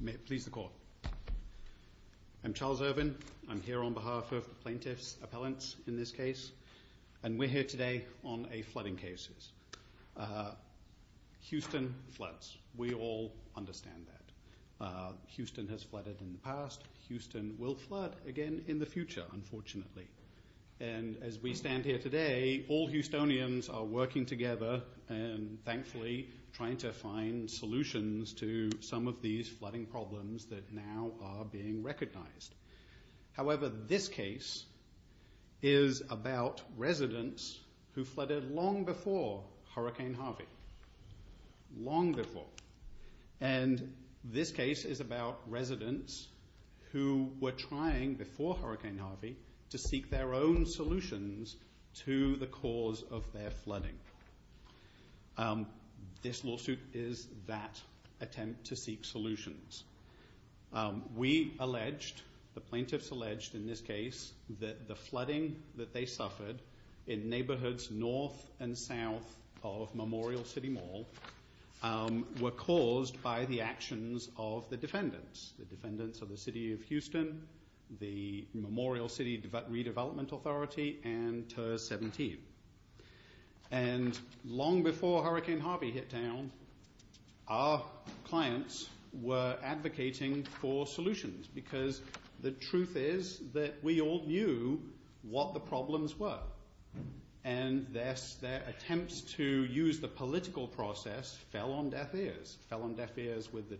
May it please the court. I'm Charles Irvin. I'm here on behalf of the plaintiffs appellants in this case and we're here today on a flooding cases. Houston floods. We all understand that. Houston has flooded in the past. Houston will flood again in the future unfortunately and as we stand here today all Houstonians are working together and thankfully trying to find solutions to some of these flooding problems that now are being recognized. However this case is about residents who flooded long before Hurricane Harvey. Long before. And this case is about residents who were trying before Hurricane Harvey to seek their own solutions to the cause of their flooding. This lawsuit is that attempt to seek solutions. We alleged, the plaintiffs alleged in this case, that the flooding that they suffered in neighborhoods north and south of Memorial City Mall were caused by the actions of the defendants. The defendants of the City of Houston, the Memorial City Redevelopment Authority and TERS 17. And long before Hurricane Harvey hit town our clients were advocating for solutions because the truth is that we all knew what the problems were. And thus their attempts to use the political process fell on deaf ears. Fell on deaf ears with the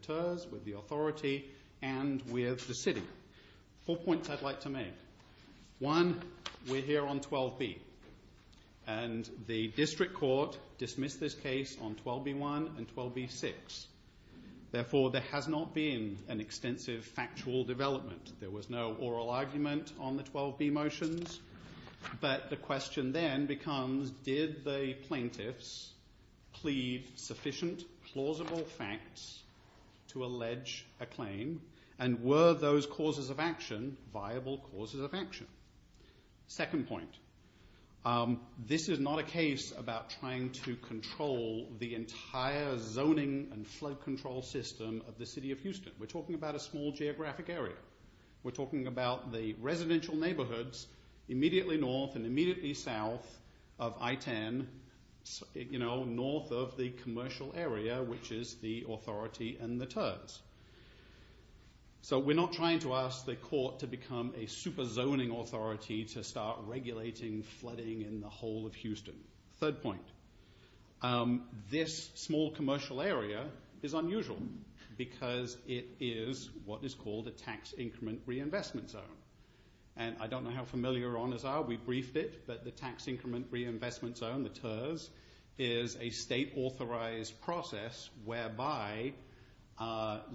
One, we're here on 12B. And the district court dismissed this case on 12B1 and 12B6. Therefore there has not been an extensive factual development. There was no oral argument on the 12B motions. But the question then becomes did the plaintiffs plead sufficient plausible facts to this action? Second point, this is not a case about trying to control the entire zoning and flood control system of the City of Houston. We're talking about a small geographic area. We're talking about the residential neighborhoods immediately north and immediately south of I-10, you know, north of the commercial area which is the authority and the TERS. So we're not trying to ask the court to become a super zoning authority to start regulating flooding in the whole of Houston. Third point, this small commercial area is unusual because it is what is called a tax increment reinvestment zone. And I don't know how familiar your honors are. We briefed it. But the tax increment reinvestment zone, the TERS, is a state authorized process whereby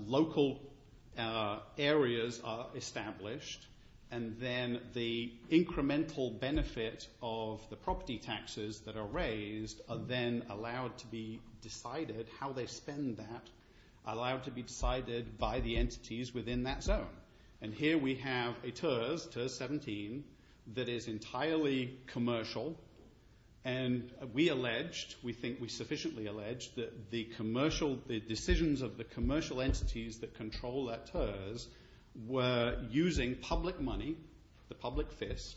local areas are established and then the incremental benefit of the property taxes that are raised are then allowed to be decided how they spend that, allowed to be decided by the entities within that zone. And here we have a TERS, TERS 17, that is entirely commercial. And we alleged, we think we sufficiently alleged that the commercial, the decisions of the commercial entities that control that TERS were using public money, the public FISC,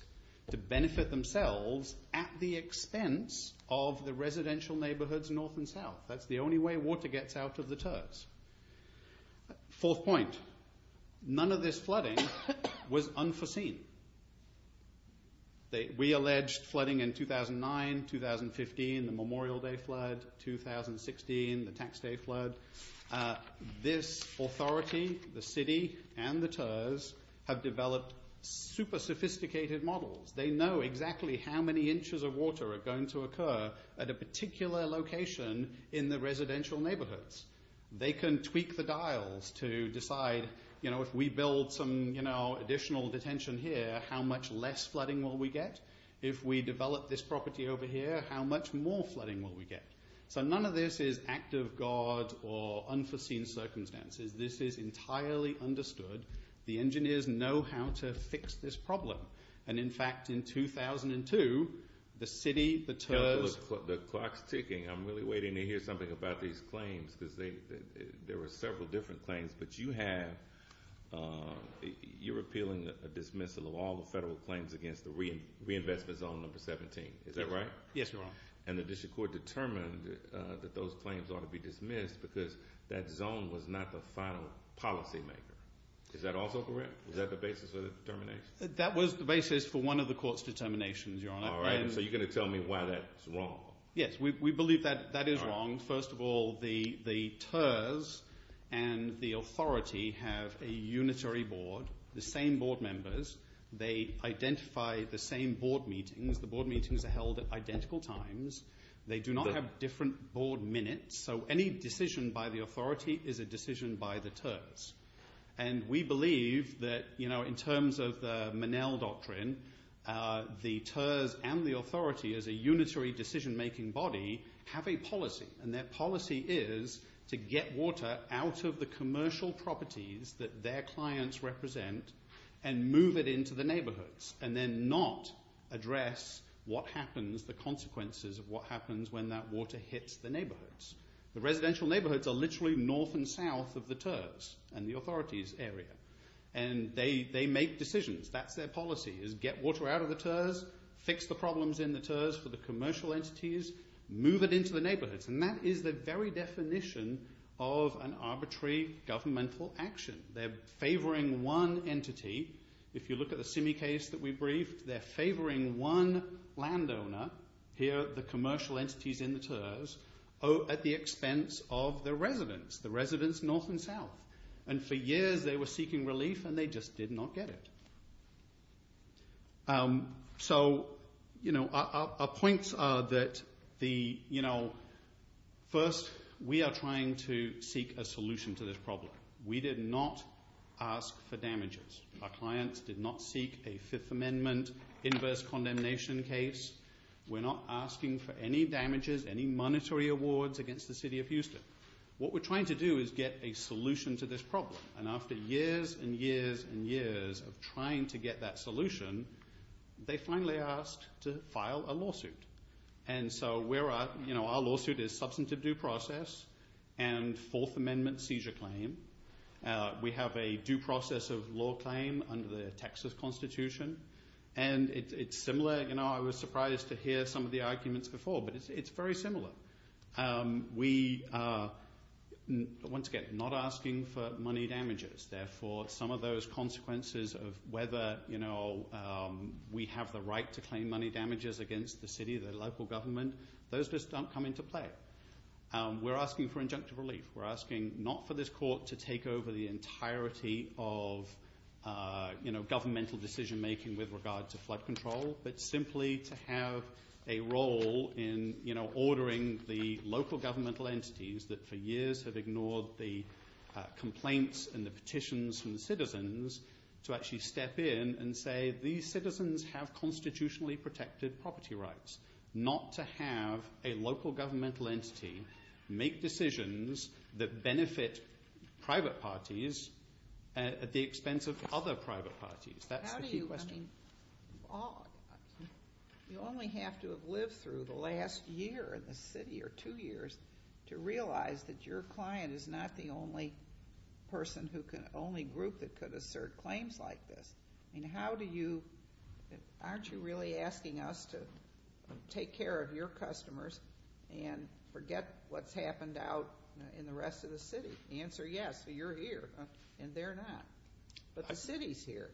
to benefit themselves at the expense of the residential neighborhoods north and south. That's the only way water gets out of the TERS. Fourth point, none of this flooding was unforeseen. We alleged flooding in 2009, 2015, the Memorial Day flood, 2016, the tax day flood. This authority, the city, and the TERS have developed super sophisticated models. They know exactly how many inches of water are going to occur at a particular location in the additional detention here, how much less flooding will we get? If we develop this property over here, how much more flooding will we get? So none of this is act of God or unforeseen circumstances. This is entirely understood. The engineers know how to fix this problem. And in fact, in 2002, the city, the TERS The clock's ticking. I'm really waiting to hear something about these claims because there were several different claims, but you have, you're appealing a dismissal of all the federal claims against the reinvestment zone number 17. Is that right? Yes, Your Honor. And the district court determined that those claims ought to be dismissed because that zone was not the final policymaker. Is that also correct? Was that the basis of the determination? That was the basis for one of the court's determinations, Your Honor. So you're going to tell me why that's wrong? Yes, we believe that that is wrong. First of all, the TERS and the authority have a unitary board, the same board members. They identify the same board meetings. The board meetings are held at identical times. They do not have different board minutes. So any decision by the authority is a decision by the TERS. And we believe that, you know, in terms of the Minnell doctrine, the TERS and the authority as a unitary decision-making body have a policy. And that policy is to get water out of the commercial properties that their clients represent and move it into the neighborhoods and then not address what happens, the consequences of what happens when that water hits the neighborhoods. The residential neighborhoods are literally north and south of the TERS and the authority's area. And they make decisions. That's their policy, is get water out of the TERS, fix the problems in the TERS for the commercial entities, move it into the neighborhoods. And that is the very definition of an arbitrary governmental action. They're favoring one entity. If you look at the Simi case that we briefed, they're favoring one landowner, here the commercial entities in the TERS, at the expense of the residents, the residents north and south. And for years they were seeking relief and they just did not get it. So, you know, our points are that the, you know, first we are trying to seek a solution to this problem. We did not ask for damages. Our clients did not seek a Fifth Amendment inverse condemnation case. We're not asking for any damages, any monetary awards against the city of Texas. And after years and years and years of trying to get that solution, they finally asked to file a lawsuit. And so we're, you know, our lawsuit is substantive due process and Fourth Amendment seizure claim. We have a due process of law claim under the Texas Constitution. And it's similar, you know, I was surprised to hear some of the arguments before, but it's very similar. We, once again, not asking for money damages. Therefore, some of those consequences of whether, you know, we have the right to claim money damages against the city, the local government, those just don't come into play. We're asking for injunctive relief. We're asking not for this court to take over the entirety of, you know, governmental decision making with regard to flood control, but simply to have a role in, you know, ordering the local governmental entities that for years have ignored the complaints and the petitions from the citizens to actually step in and say, these citizens have constitutionally protected property rights. Not to have a local governmental entity make decisions that benefit private parties at the expense of other private parties. That's the key question. I mean, you only have to have lived through the last year in the city, or two years, to realize that your client is not the only person who can, only group that could assert claims like this. I mean, how do you, aren't you really asking us to take care of your customers and forget what's happened out in the rest of the city? The answer, yes, you're here. And they're not. But the city's here.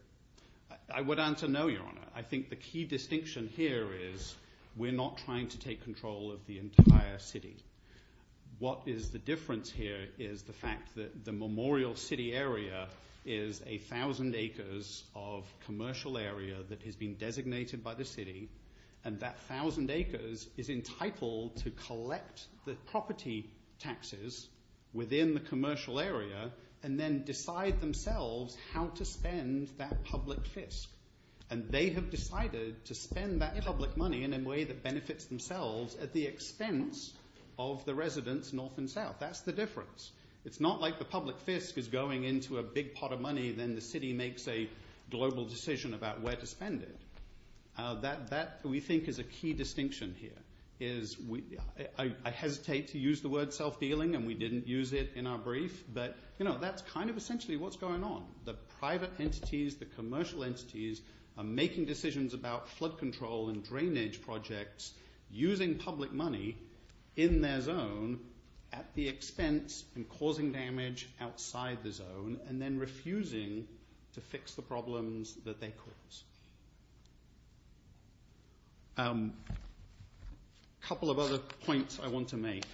I would answer no, Your Honor. I think the key distinction here is we're not trying to take control of the entire city. What is the difference here is the fact that the memorial city area is a thousand acres of commercial area that has been designated by the city, and that thousand acres is entitled to collect the property taxes within the commercial area and then decide themselves how to spend that public fisc. And they have decided to spend that public money in a way that benefits themselves at the expense of the residents north and south. That's the difference. It's not like the public fisc is going into a big pot of money, then the city makes a global decision about where to spend it. That, we think, is a key distinction here. I hesitate to use the word self-dealing, and we didn't use it in our brief, but that's kind of essentially what's going on. The private entities, the commercial entities, are making decisions about flood control and drainage projects using public money in their zone at the expense and causing damage outside the zone, and then refusing to fix the problems that they cause. A couple of other points I want to make.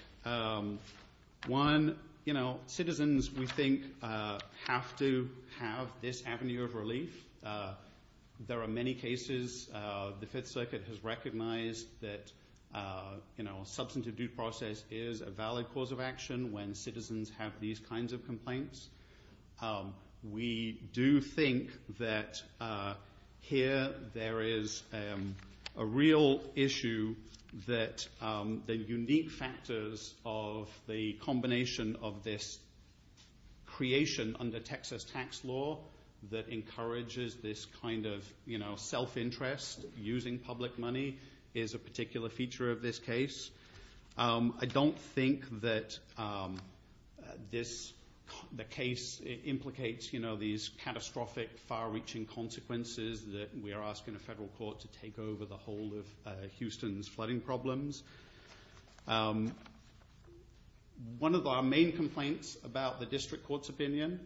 One, you know, citizens, we think, have to have this avenue of relief. There are many cases the Fifth Circuit has recognized that, you know, substantive due process is a valid cause of action when citizens have these kinds of complaints. We do think that here there is a real issue that the unique factors of the combination of this creation under Texas tax law that encourages this kind of, you know, self-interest using public money is a particular feature of this case. I don't think that this case implicates, you know, these catastrophic, far-reaching consequences that we are asking a federal court to take over the whole of Houston's flooding problems. One of our main complaints about the district court's opinion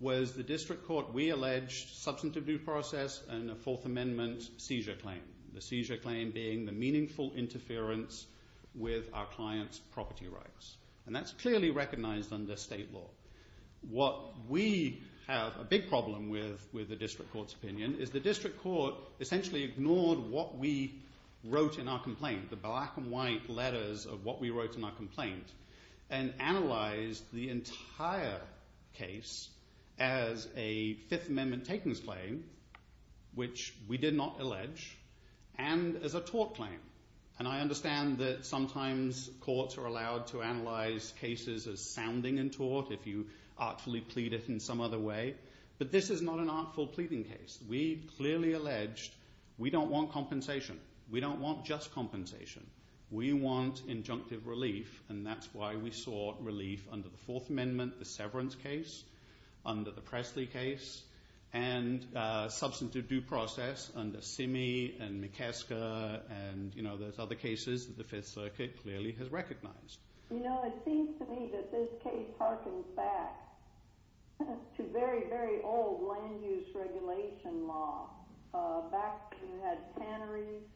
was the district court re-alleged substantive due process and a Fourth Amendment seizure claim. The seizure claim being the meaningful interference with our client's property rights. And that's clearly recognized under state law. What we have a big problem with the district court's opinion is the district court essentially ignored what we wrote in our complaint, the black and white letters of what we wrote in our complaint, and analyzed the entire case as a Fifth Amendment takings claim, which we did not allege, and as a tort claim. And I understand that sometimes courts are allowed to analyze cases as sounding and tort if you artfully plead it in some other way, but this is not an artful pleading case. We clearly alleged we don't want compensation. We don't want just compensation. We want injunctive relief, and that's why we sought relief under the Fourth Amendment, the severance case, under the Presley case, and substantive due process under Simme and McKesker and those other cases that the Fifth Circuit clearly has recognized. You know, it seems to me that this case harkens back to very, very old land use regulation law. Back when you had tanneries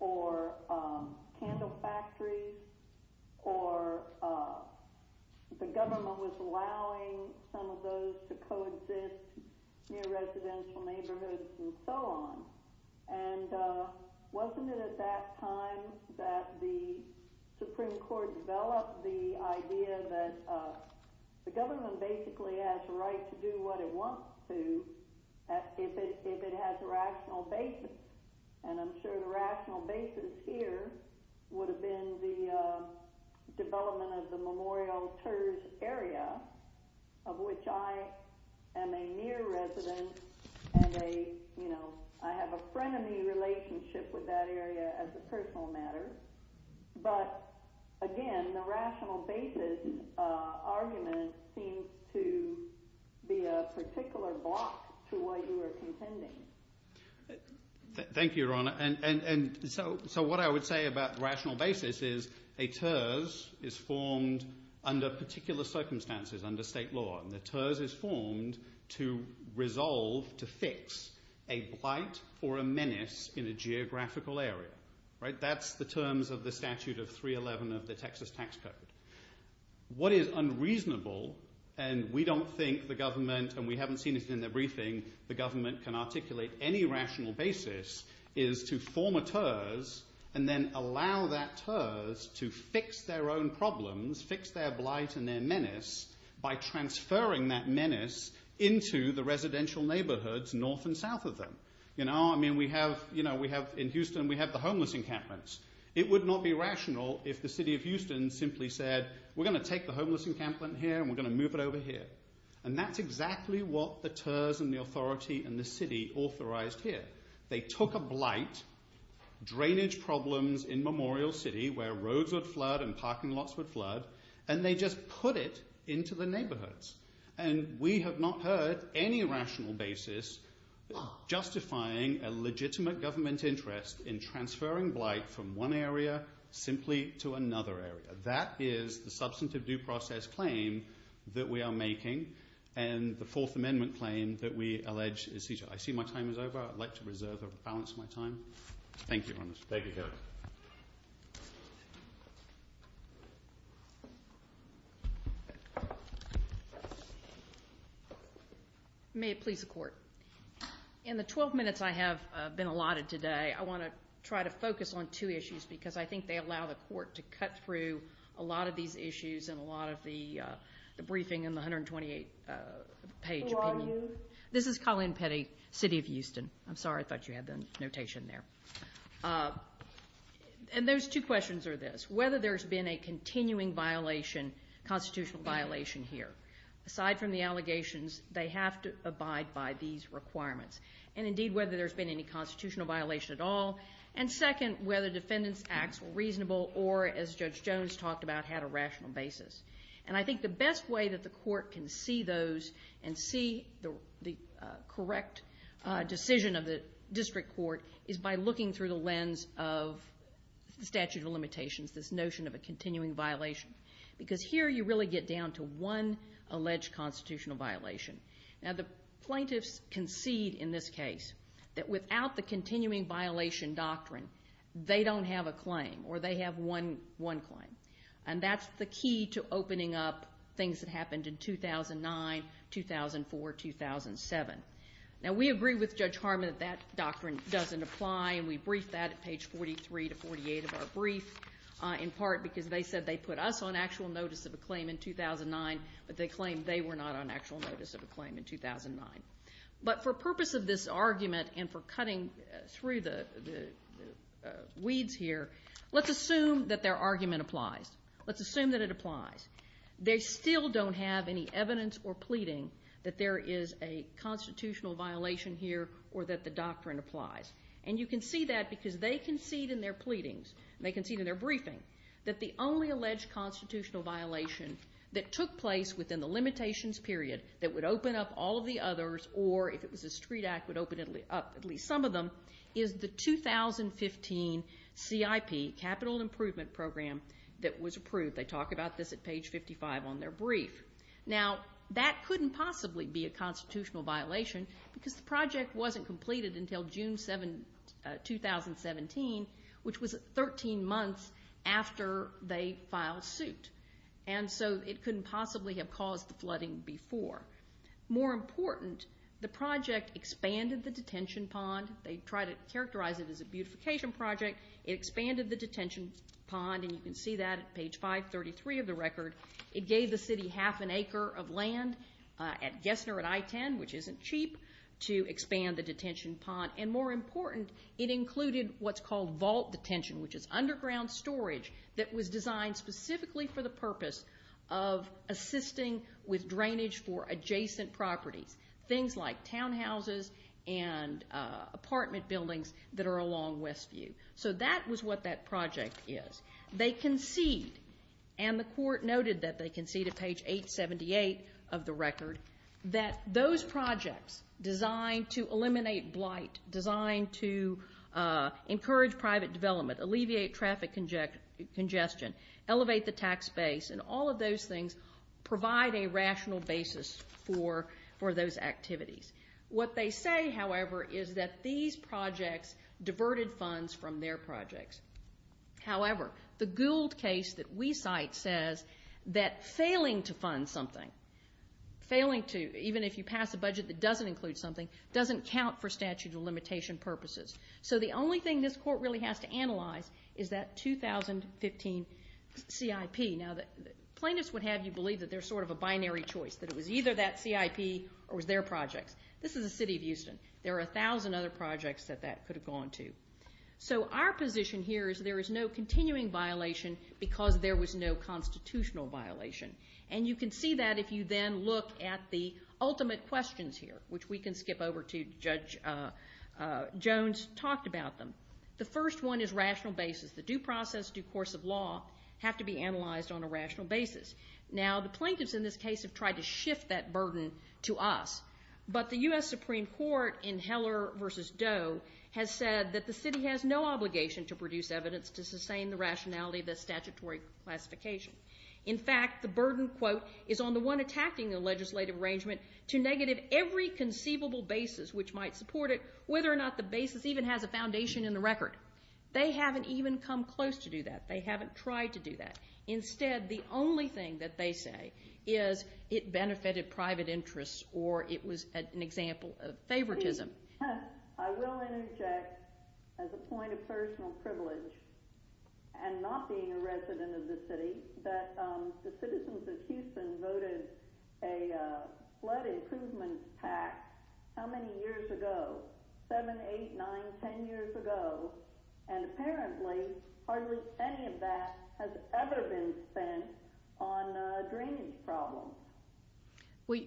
or candle factories or the government was allowing some of those to coexist near residential neighborhoods and so on, and wasn't it at that time that the Supreme Court developed the idea that the government basically has a right to do what it wants to if it has a rational basis? And I'm sure the rational basis here would have been the development of the Memorial Terge area, of which I am a near resident, and I have a frenemy relationship with that area as a personal matter. But again, the rational basis argument seems to be a particular block to what you are contending. Thank you, Your Honor. So what I would say about rational basis is a terge is formed under particular circumstances, under state law, and the terge is formed to resolve, to fix a blight or a menace in a geographical area. That's the terms of the statute of 311 of the Texas Tax Code. What is unreasonable, and we don't think the government, and we haven't seen it in the briefing, the government can articulate any rational basis, is to form a terge and then allow that terge to fix their own problems, fix their blight and their menace by transferring that menace into the residential neighborhoods north and south of them. In Houston, we have the homeless encampments. It would not be rational if the city of Houston simply said, We're going to take the homeless encampment here and we're going to move it over here. And that's exactly what the terge and the authority and the city authorized here. They took a blight, drainage problems in Memorial City, where roads would flood and parking lots would flood, and they just put it into the neighborhoods. And we have not heard any rational basis justifying a legitimate government interest in transferring blight from one area simply to another area. That is the substantive due process claim that we are making, and the Fourth Amendment claim that we allege is seizure. I see my time is over. I'd like to reserve or balance my time. Thank you very much. May it please the Court. In the 12 minutes I have been allotted today, I want to try to focus on two issues, because I think they allow the Court to cut through a lot of these issues and a lot of the briefing and the 128-page opinion. Who are you? This is Colleen Petty, city of Houston. I'm sorry, I thought you had the notation there. And those two questions are this. Whether there's been a continuing violation, constitutional violation here. Aside from the allegations, they have to abide by these requirements. And indeed, whether there's been any constitutional violation at all. And second, whether defendants' acts were reasonable or, as Judge Jones talked about, had a rational basis. And I think the best way that the Court can see those and see the correct decision of the district court is by looking through the lens of the statute of limitations, this notion of a continuing violation. Because here you really get down to one alleged constitutional violation. Now the plaintiffs concede in this case that without the continuing violation doctrine, they don't have a claim or they have one claim. And that's the key to opening up things that happened in 2009, 2004, 2007. Now we agree with Judge Harmon that that doctrine doesn't apply and we briefed that at page 43 to 48 of our brief in part because they said they put us on actual notice of a claim in 2009 but they claimed they were not on actual notice of a claim in 2009. But for purpose of this argument and for cutting through the weeds here, let's assume that their argument applies. Let's assume that it applies. They still don't have any evidence or pleading that there is a constitutional violation here or that the doctrine applies. And you can see that because they concede in their pleadings, they concede in their briefing, that the only alleged constitutional violation that took place within the limitations period that would open up all of the others or if it was a street act, would open at least some of them, is the 2015 CIP, Capital Improvement Program that was approved. They talk about this at page 55 on their brief. Now that couldn't possibly be a constitutional violation because the project wasn't completed until June 2017 which was 13 months after they filed suit. And so it couldn't possibly have caused the flooding before. More important, the project expanded the detention pond. They try to characterize it as a beautification project. It expanded the detention pond and you can see that at page 533 of the record. It gave the city half an acre of land at Gessner at I-10 which isn't cheap, to expand the detention pond. And more important, it included what's called vault detention which is underground storage that was designed specifically for the existing, with drainage for adjacent properties. Things like townhouses and apartment buildings that are along Westview. So that was what that project is. They concede and the court noted that they concede at page 878 of the record, that those projects designed to eliminate blight, designed to encourage private development, alleviate traffic congestion, elevate the tax base and all of those things provide a rational basis for those activities. What they say, however, is that these projects diverted funds from their projects. However, the Gould case that we cite says that failing to fund something, failing to, even if you pass a budget that doesn't include something, doesn't count for statute of limitation purposes. So the only thing this court really has to analyze is that 2015 CIP. Now plaintiffs would have you believe that they're sort of a binary choice, that it was either that CIP or it was their projects. This is the city of Houston. There are a thousand other projects that that could have gone to. So our position here is there is no continuing violation because there was no constitutional violation. And you can see that if you then look at the ultimate questions here, which we can skip over to Judge Jones talked about them. The first one is rational basis. The due process, due course of law have to be analyzed on a rational basis. Now the plaintiffs in this case have tried to shift that burden to us, but the U.S. Supreme Court in Heller v. Doe has said that the city has no obligation to produce evidence to sustain the rationality of the statutory classification. In fact, the burden is on the one attacking the legislative arrangement to negative every conceivable basis which might support it whether or not the basis even has a foundation in the record. They haven't even come close to do that. They haven't tried to do that. Instead, the only thing that they say is it benefited private interests or it was an example of favoritism. I will interject as a point of personal privilege and not being a resident of the city that the citizens of Houston voted a flood improvement pact how many years ago? 7, 8, 9, 10 years ago and apparently hardly any of that has ever been spent on drainage problems.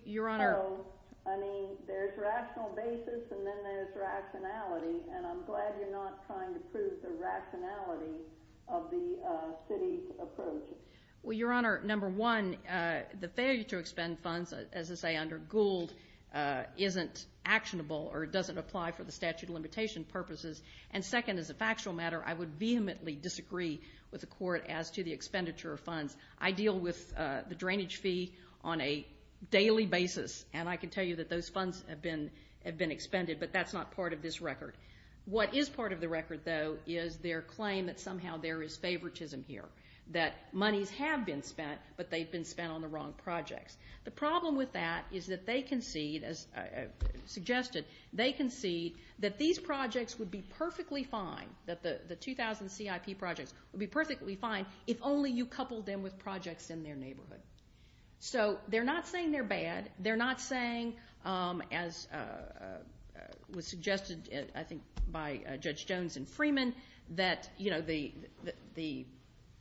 Your Honor I mean, there's rational basis and then there's rationality and I'm glad you're not trying to prove the rationality of the city's approach. Well, Your Honor, number one the failure to expend funds as I say under Gould isn't actionable or doesn't apply for the statute of limitation purposes and second, as a factual matter, I would vehemently disagree with the court as to the expenditure of funds. I deal with the drainage fee on a daily basis and I can tell you that those funds have been expended but that's not part of this record. What is part of the record though is their claim that somehow there is favoritism here that monies have been spent but they've been spent on the wrong projects. The problem with that is that they concede, as suggested they concede that these projects would be perfectly fine that the 2,000 CIP projects would be perfectly fine if only you coupled them with projects in their neighborhood. So they're not saying they're bad they're not saying as was suggested I think by Judge Jones and Freeman that the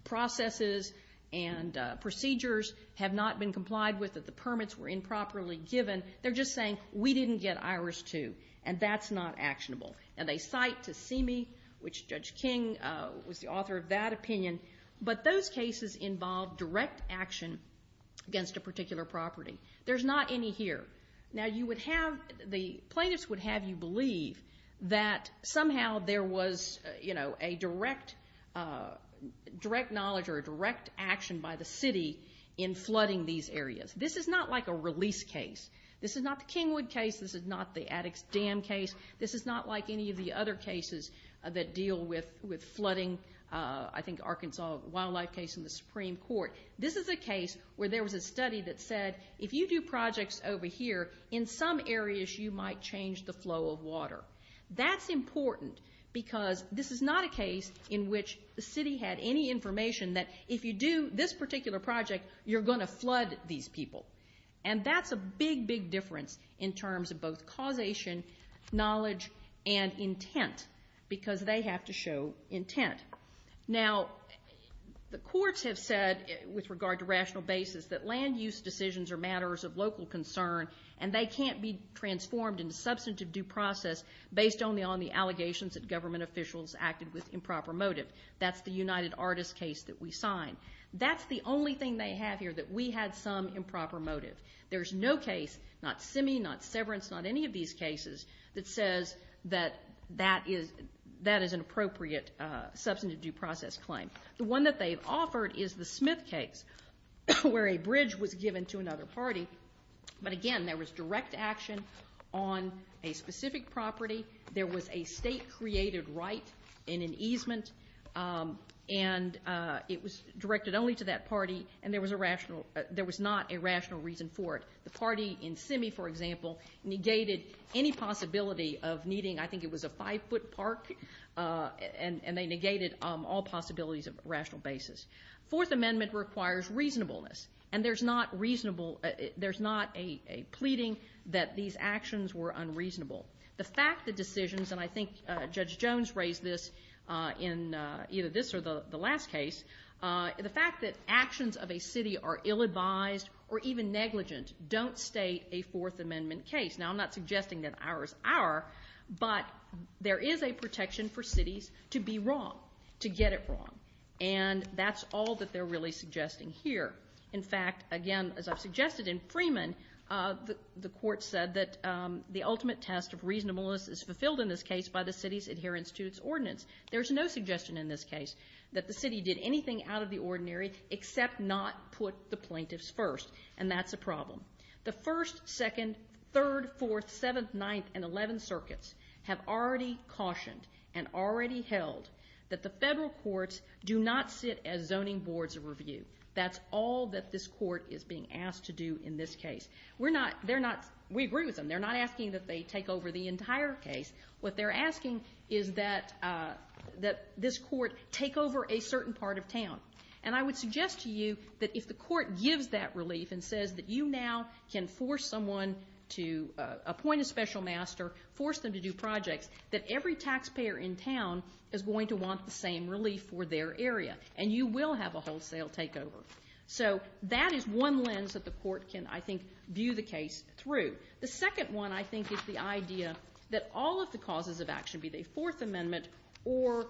processes and that the permits were improperly given they're just saying we didn't get ours too and that's not actionable and they cite Tasimi which Judge King was the author of that opinion but those cases involve direct action against a particular property. There's not any here. Now you would have the plaintiffs would have you believe that somehow there was, you know, a direct direct knowledge or a direct action by the city in flooding these areas. This is not like a release case. This is not the Kingwood case. This is not the Attucks Dam case. This is not like any of the other cases that deal with flooding I think Arkansas wildlife case in the Supreme Court. This is a case where there was a study that said if you do projects over here in some areas you might change the flow of water. That's important because this is not a case in which the city had any information that if you do this particular project you're going to flood these people and that's a big, big difference in terms of both causation knowledge and intent because they have to show intent. Now the courts have said with regard to rational basis that land use decisions are matters of local concern and they can't be transformed into substantive due process based only on the allegations that government officials acted with improper motive. That's the United Artists case that we signed. That's the only thing they have here that we had some improper motive. There's no case, not Simi, not Severance, not any of these cases that says that that is an appropriate substantive due process claim. The one that they've offered is the Smith case where a bridge was given to another party but again there was direct action on a specific property there was a state created right in an easement and it was directed only to that party and there was a rational, there was not a rational reason for it. The party in Simi, for example, negated any possibility of needing, I think it was a five foot park and they negated all possibilities of rational basis. Fourth amendment requires reasonableness and there's not reasonable, there's not a pleading that these actions were unreasonable. The fact that decisions, and I think Judge Jones raised this in either this or the last case the fact that actions of a city are ill-advised or even negligent don't state a fourth amendment case. Now I'm not suggesting that ours are, but there is a protection for cities to be wrong, to get it wrong and that's all that they're really suggesting here. In fact again, as I've suggested in Freeman the court said that the ultimate test of reasonableness is fulfilled in this case by the city's adherence to its ordinance. There's no suggestion in this case that the city did anything out of the ordinary except not put the plaintiffs first and that's a problem. The first, second third, fourth, seventh, ninth and eleven circuits have already cautioned and already held that the federal courts do not sit as zoning boards of review. That's all that this court is being asked to do in this case. We agree with them. They're not asking that they take over the entire case. What they're asking is that this court take over a certain part of town and I would suggest to you that if the court gives that relief and says that you now can force someone to appoint a special master force them to do projects that every taxpayer in town is going to want the same relief for their area and you will have a wholesale takeover. So that is one lens that the court can, I think, view the case through. The second one, I think, is the idea that all of the causes of action, be they Fourth Amendment or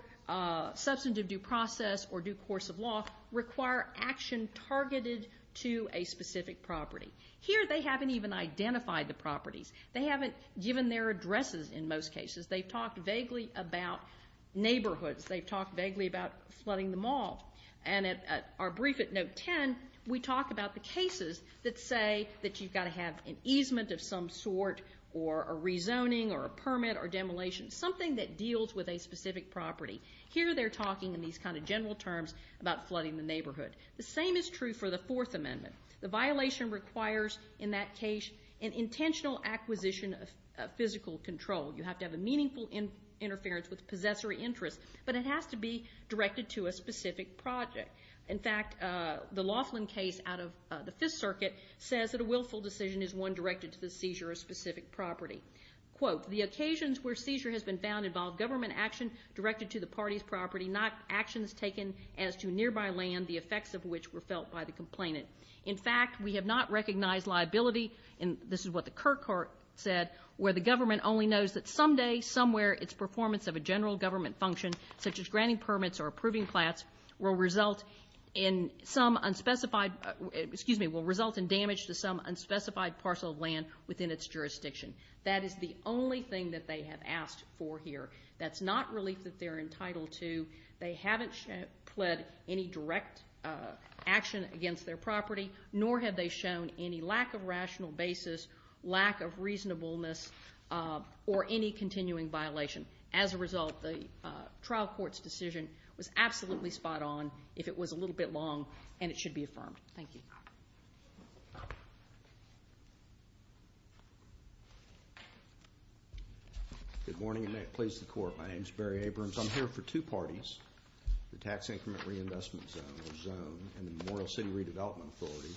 substantive due process or due course of law, require action targeted to a specific property. Here they haven't even identified the properties. They haven't given their addresses in most cases. They've talked vaguely about neighborhoods. They've talked vaguely about flooding the mall. And at our brief at Note 10, we talk about the cases that say that you've got to have an easement of some sort or a rezoning or a permit or demolition. Something that deals with a specific property. Here they're talking in these kind of general terms about flooding the neighborhood. The same is true for the Fourth Amendment. The violation requires, in that case, an intentional acquisition of physical control. You have to have a meaningful interference with possessory interests but it has to be directed to a specific project. In fact, the Laughlin case out of the Fifth Circuit says that a willful decision is one directed to the seizure of a specific property. Quote, the occasions where seizure has been found involve government action directed to the party's property not actions taken as to nearby land, the effects of which were felt by the complainant. In fact, we have not recognized liability, and this is what the Kirkhart said, where the government only knows that someday, somewhere it's performance of a general government function such as granting permits or approving flats will result in some unspecified, excuse me, will result in damage to some unspecified parcel of land within its jurisdiction. That is the only thing that they have asked for here. That's not relief that they're entitled to. They haven't pled any direct action against their property, nor have they shown any lack of rational basis, lack of reasonableness, or any continuing violation. As a result, the trial court's decision was absolutely spot on if it was a little bit long, and it should be affirmed. Thank you. Good morning, and may it please the court. My name is Barry Abrams. I'm here for two parties, the Tax Increment Reinvestment Zone and the Memorial City Redevelopment Authority,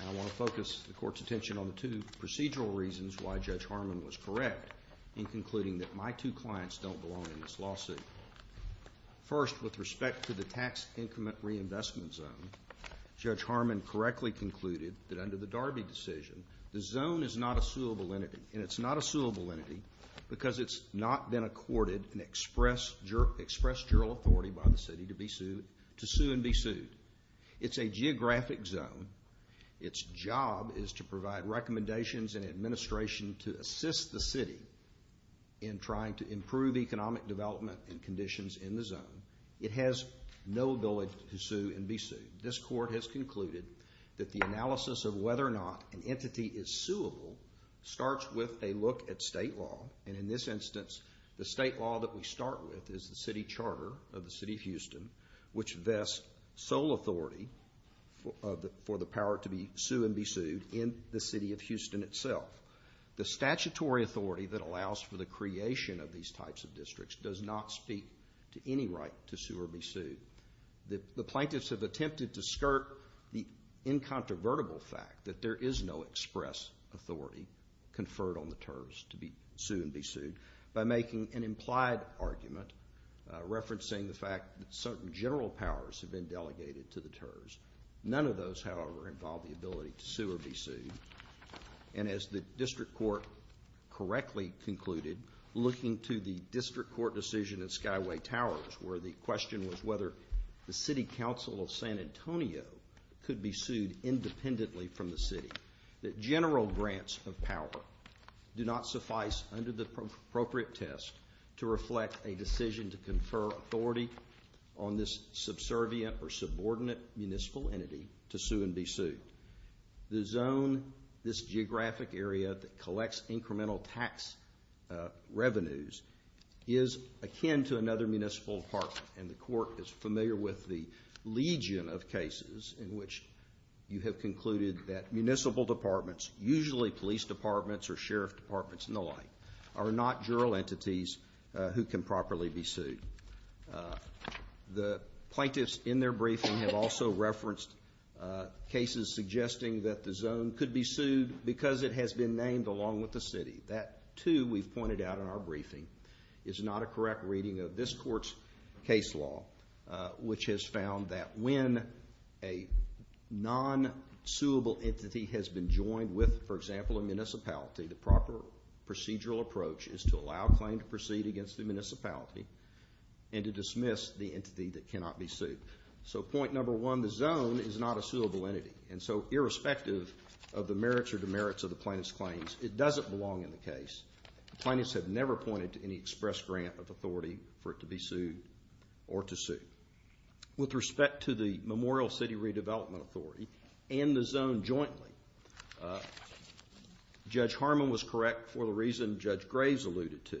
and I want to focus the court's attention on the two procedural reasons why Judge Harmon was correct in concluding that my two clients don't belong in this lawsuit. First, with respect to the Tax Increment Reinvestment Zone, Judge Harmon correctly concluded that under the Darby decision, the zone is not a suable entity, and it's not a suable entity because it's not been accorded an express jural authority by the city to sue and be sued. It's a geographic zone. Its job is to provide recommendations and administration to assist the city in trying to improve economic development and conditions in the zone. It has no ability to sue and be sued. This court has concluded that the analysis of whether or not an entity is suable starts with a look at state law, and in this instance, the state law that we start with is the city charter of the city of Houston, which vests sole authority for the power to sue and be sued in the city of Houston itself. The statutory authority that allows for the creation of these types of districts does not speak to any right to sue or be sued. The plaintiffs have attempted to skirt the incontrovertible fact that there is no express authority conferred on the terms to sue and be sued by making an implied argument referencing the fact that certain general powers have been delegated to the terms. None of those, however, involve the ability to sue or be sued. And as the district court correctly concluded, looking to the district court decision in Skyway Towers where the question was whether the city council of San Antonio could be sued independently from the city, that general grants of power do not suffice under the appropriate test to reflect a decision to confer authority on this subservient or subordinate municipal entity to sue and be sued. The zone, this geographic area that collects incremental tax revenues is akin to another municipal apartment and the court is familiar with the legion of cases in which you have concluded that municipal departments, usually police departments or sheriff departments and the like, are not juror entities who can properly be sued. The court has referenced cases suggesting that the zone could be sued because it has been named along with the city. That too we've pointed out in our briefing is not a correct reading of this court's case law, which has found that when a non-suable entity has been joined with, for example, a municipality, the proper procedural approach is to allow a claim to proceed against the municipality and to dismiss the entity that cannot be sued. So point number one, the zone is not a suable entity and so irrespective of the merits or demerits of the plaintiff's claims, it doesn't belong in the case. The plaintiffs have never pointed to any express grant of authority for it to be sued or to sue. With respect to the Memorial City Redevelopment Authority and the zone jointly, Judge Harmon was correct for the reason Judge Graves alluded to.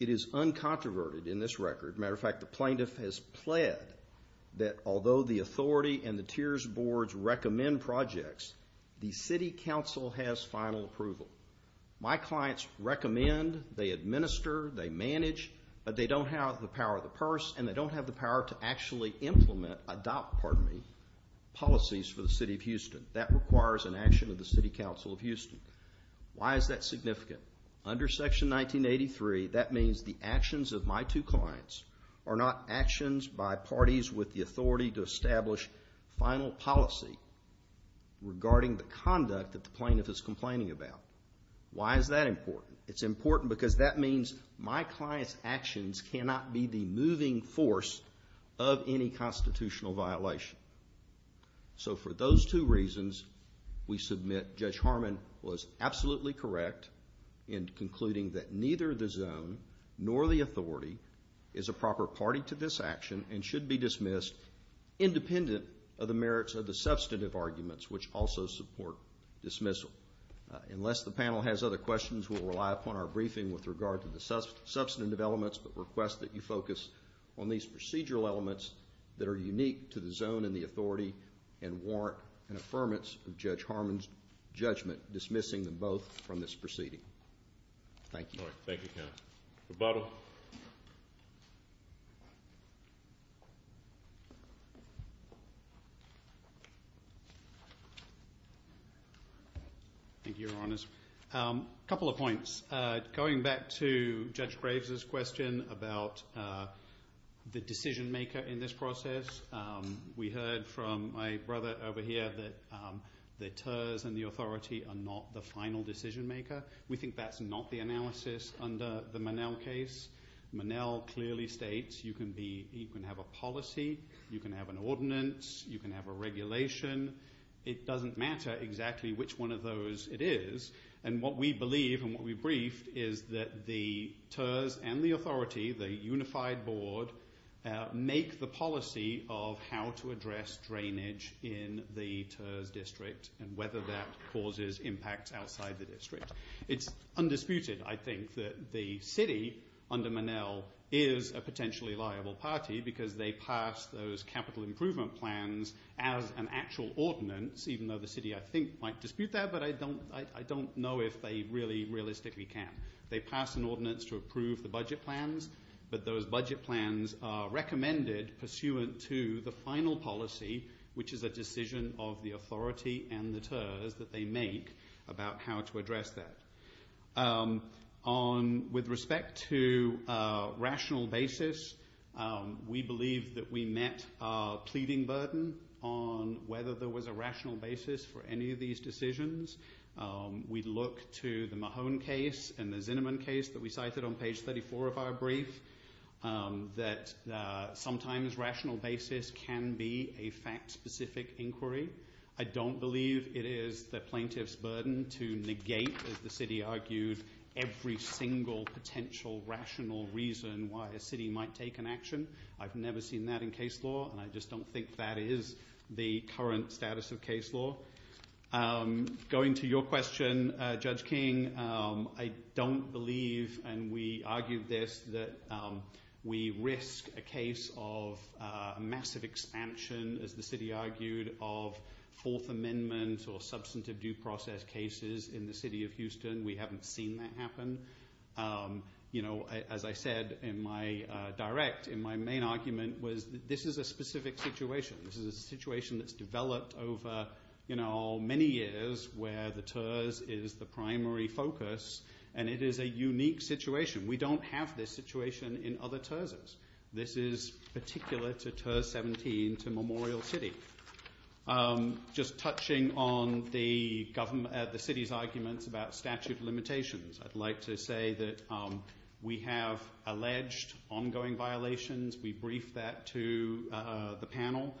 It is uncontroverted in this record. As a matter of fact, the plaintiff has pled that although the authority and the tiers boards recommend projects, the city council has final approval. My clients recommend, they administer, they manage, but they don't have the power of the purse and they don't have the power to actually implement, adopt, pardon me, policies for the city of Houston. That requires an action of the city council of Houston. Why is that significant? Under section 1983, that means the actions of my two clients are not actions by parties with the authority to establish final policy regarding the conduct that the plaintiff is complaining about. Why is that important? It's important because that means my client's actions cannot be the moving force of any constitutional violation. So for those two reasons, we submit Judge Harmon was absolutely correct in concluding that neither the zone nor the authority is a proper party to this action and should be dismissed independent of the merits of the substantive arguments which also support dismissal. Unless the panel has other questions, we'll rely upon our briefing with regard to the substantive elements but request that you focus on these procedural elements that are unique to the zone and the authority and warrant an affirmance of Judge Harmon's judgment dismissing them both from this proceeding. Thank you. Rebuttal. A couple of points. Going back to Judge Graves' question about the decision maker in this process, we heard from my brother over here that the TERS and the authority are not the final decision maker. We think that's not the analysis under the Monell case. Monell clearly states you can have a policy, you can have an ordinance, you can have a regulation. It doesn't matter exactly which one of those it is. And what we believe and what we briefed is that the TERS and the authority, the unified board, make the policy of how to address drainage in the TERS district and whether that causes impacts outside the district. It's undisputed, I think, that the city under Monell is a potentially liable party because they pass those capital improvement plans as an actual ordinance even though the city, I think, might dispute that but I don't know if they really realistically can. They pass an ordinance to approve the budget plans but those budget plans are recommended pursuant to the final policy which is a decision of the authority and the TERS that they make about how to address that. With respect to rational basis, we believe that we met our pleading burden on whether there was a rational basis for any of these decisions. We look to the Mahone case and the Zinnerman case that we cited on page 34 of our brief that sometimes rational basis can be a fact-specific inquiry. I don't believe it is the plaintiff's burden to negate, as the city argued, every single potential rational reason why a city might take an action. I've never seen that in case law and I just don't think that is the current status of case law. Going to your question, Judge King, I don't believe and we argued this, that we risk a case of massive expansion, as the city argued, of Fourth Amendment or substantive due process cases in the city of Houston. We haven't seen that happen. As I said in my direct, in my main argument, this is a specific situation. This is a situation that's developed over many years where the TERS is the primary focus and it is a unique situation. We don't have this situation in other TERSs. This is particular to TERS 17 to Memorial City. Just touching on the city's arguments about statute limitations, I'd like to say that we have alleged ongoing violations. We briefed that to the panel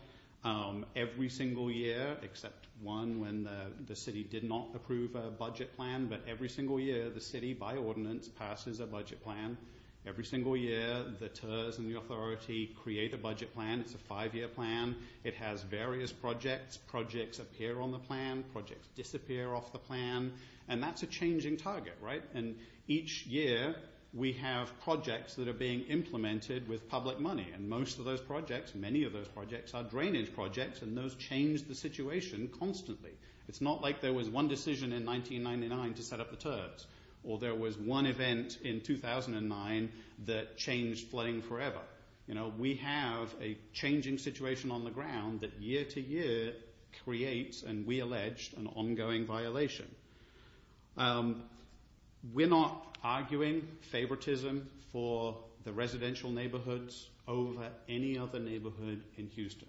every single year, except one when the city did not approve a budget plan, but every single year the city, by ordinance, passes a budget plan. Every single year the TERS and the authority create a budget plan. It's a five-year plan. It has various projects. Projects appear on the plan. Projects disappear off the plan. That's a changing target. Each year, we have projects that are being implemented with public money. Most of those projects, many of those projects, are drainage projects and those change the situation constantly. It's not like there was one decision in 1999 to set up the TERS or there was one event in 2009 that changed flooding forever. We have a changing situation on the ground that year to year creates, and we allege, an ongoing violation. We're not arguing favoritism for the residential neighborhoods over any other neighborhood in Houston.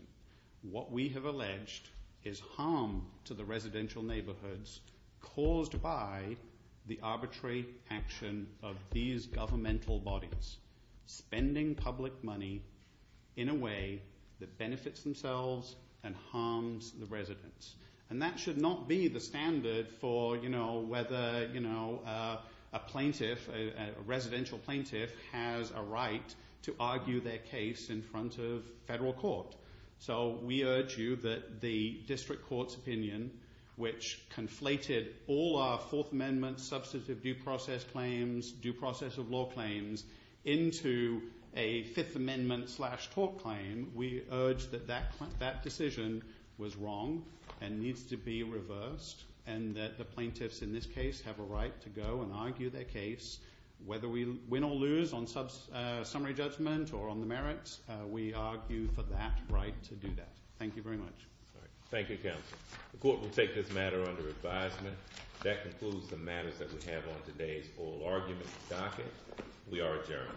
What we have alleged is harm to the residential neighborhoods caused by the arbitrary action of these governmental bodies spending public money in a way that benefits themselves and harms the residents. That should not be the standard for whether a plaintiff, a residential plaintiff has a right to argue their case in front of federal court. We urge you that the district court's opinion which conflated all our Fourth Amendment substantive due process claims, due process of law claims, into a Fifth Amendment tort claim, we urge that that decision was wrong and needs to be reversed and that the plaintiffs in this case have a right to go and argue their case whether we win or lose on summary judgment or on the merits, we argue for that right to do that. Thank you very much. Thank you counsel. The court will take this matter under advisement. That concludes the matters that we have on today's oral argument docket. We are adjourned.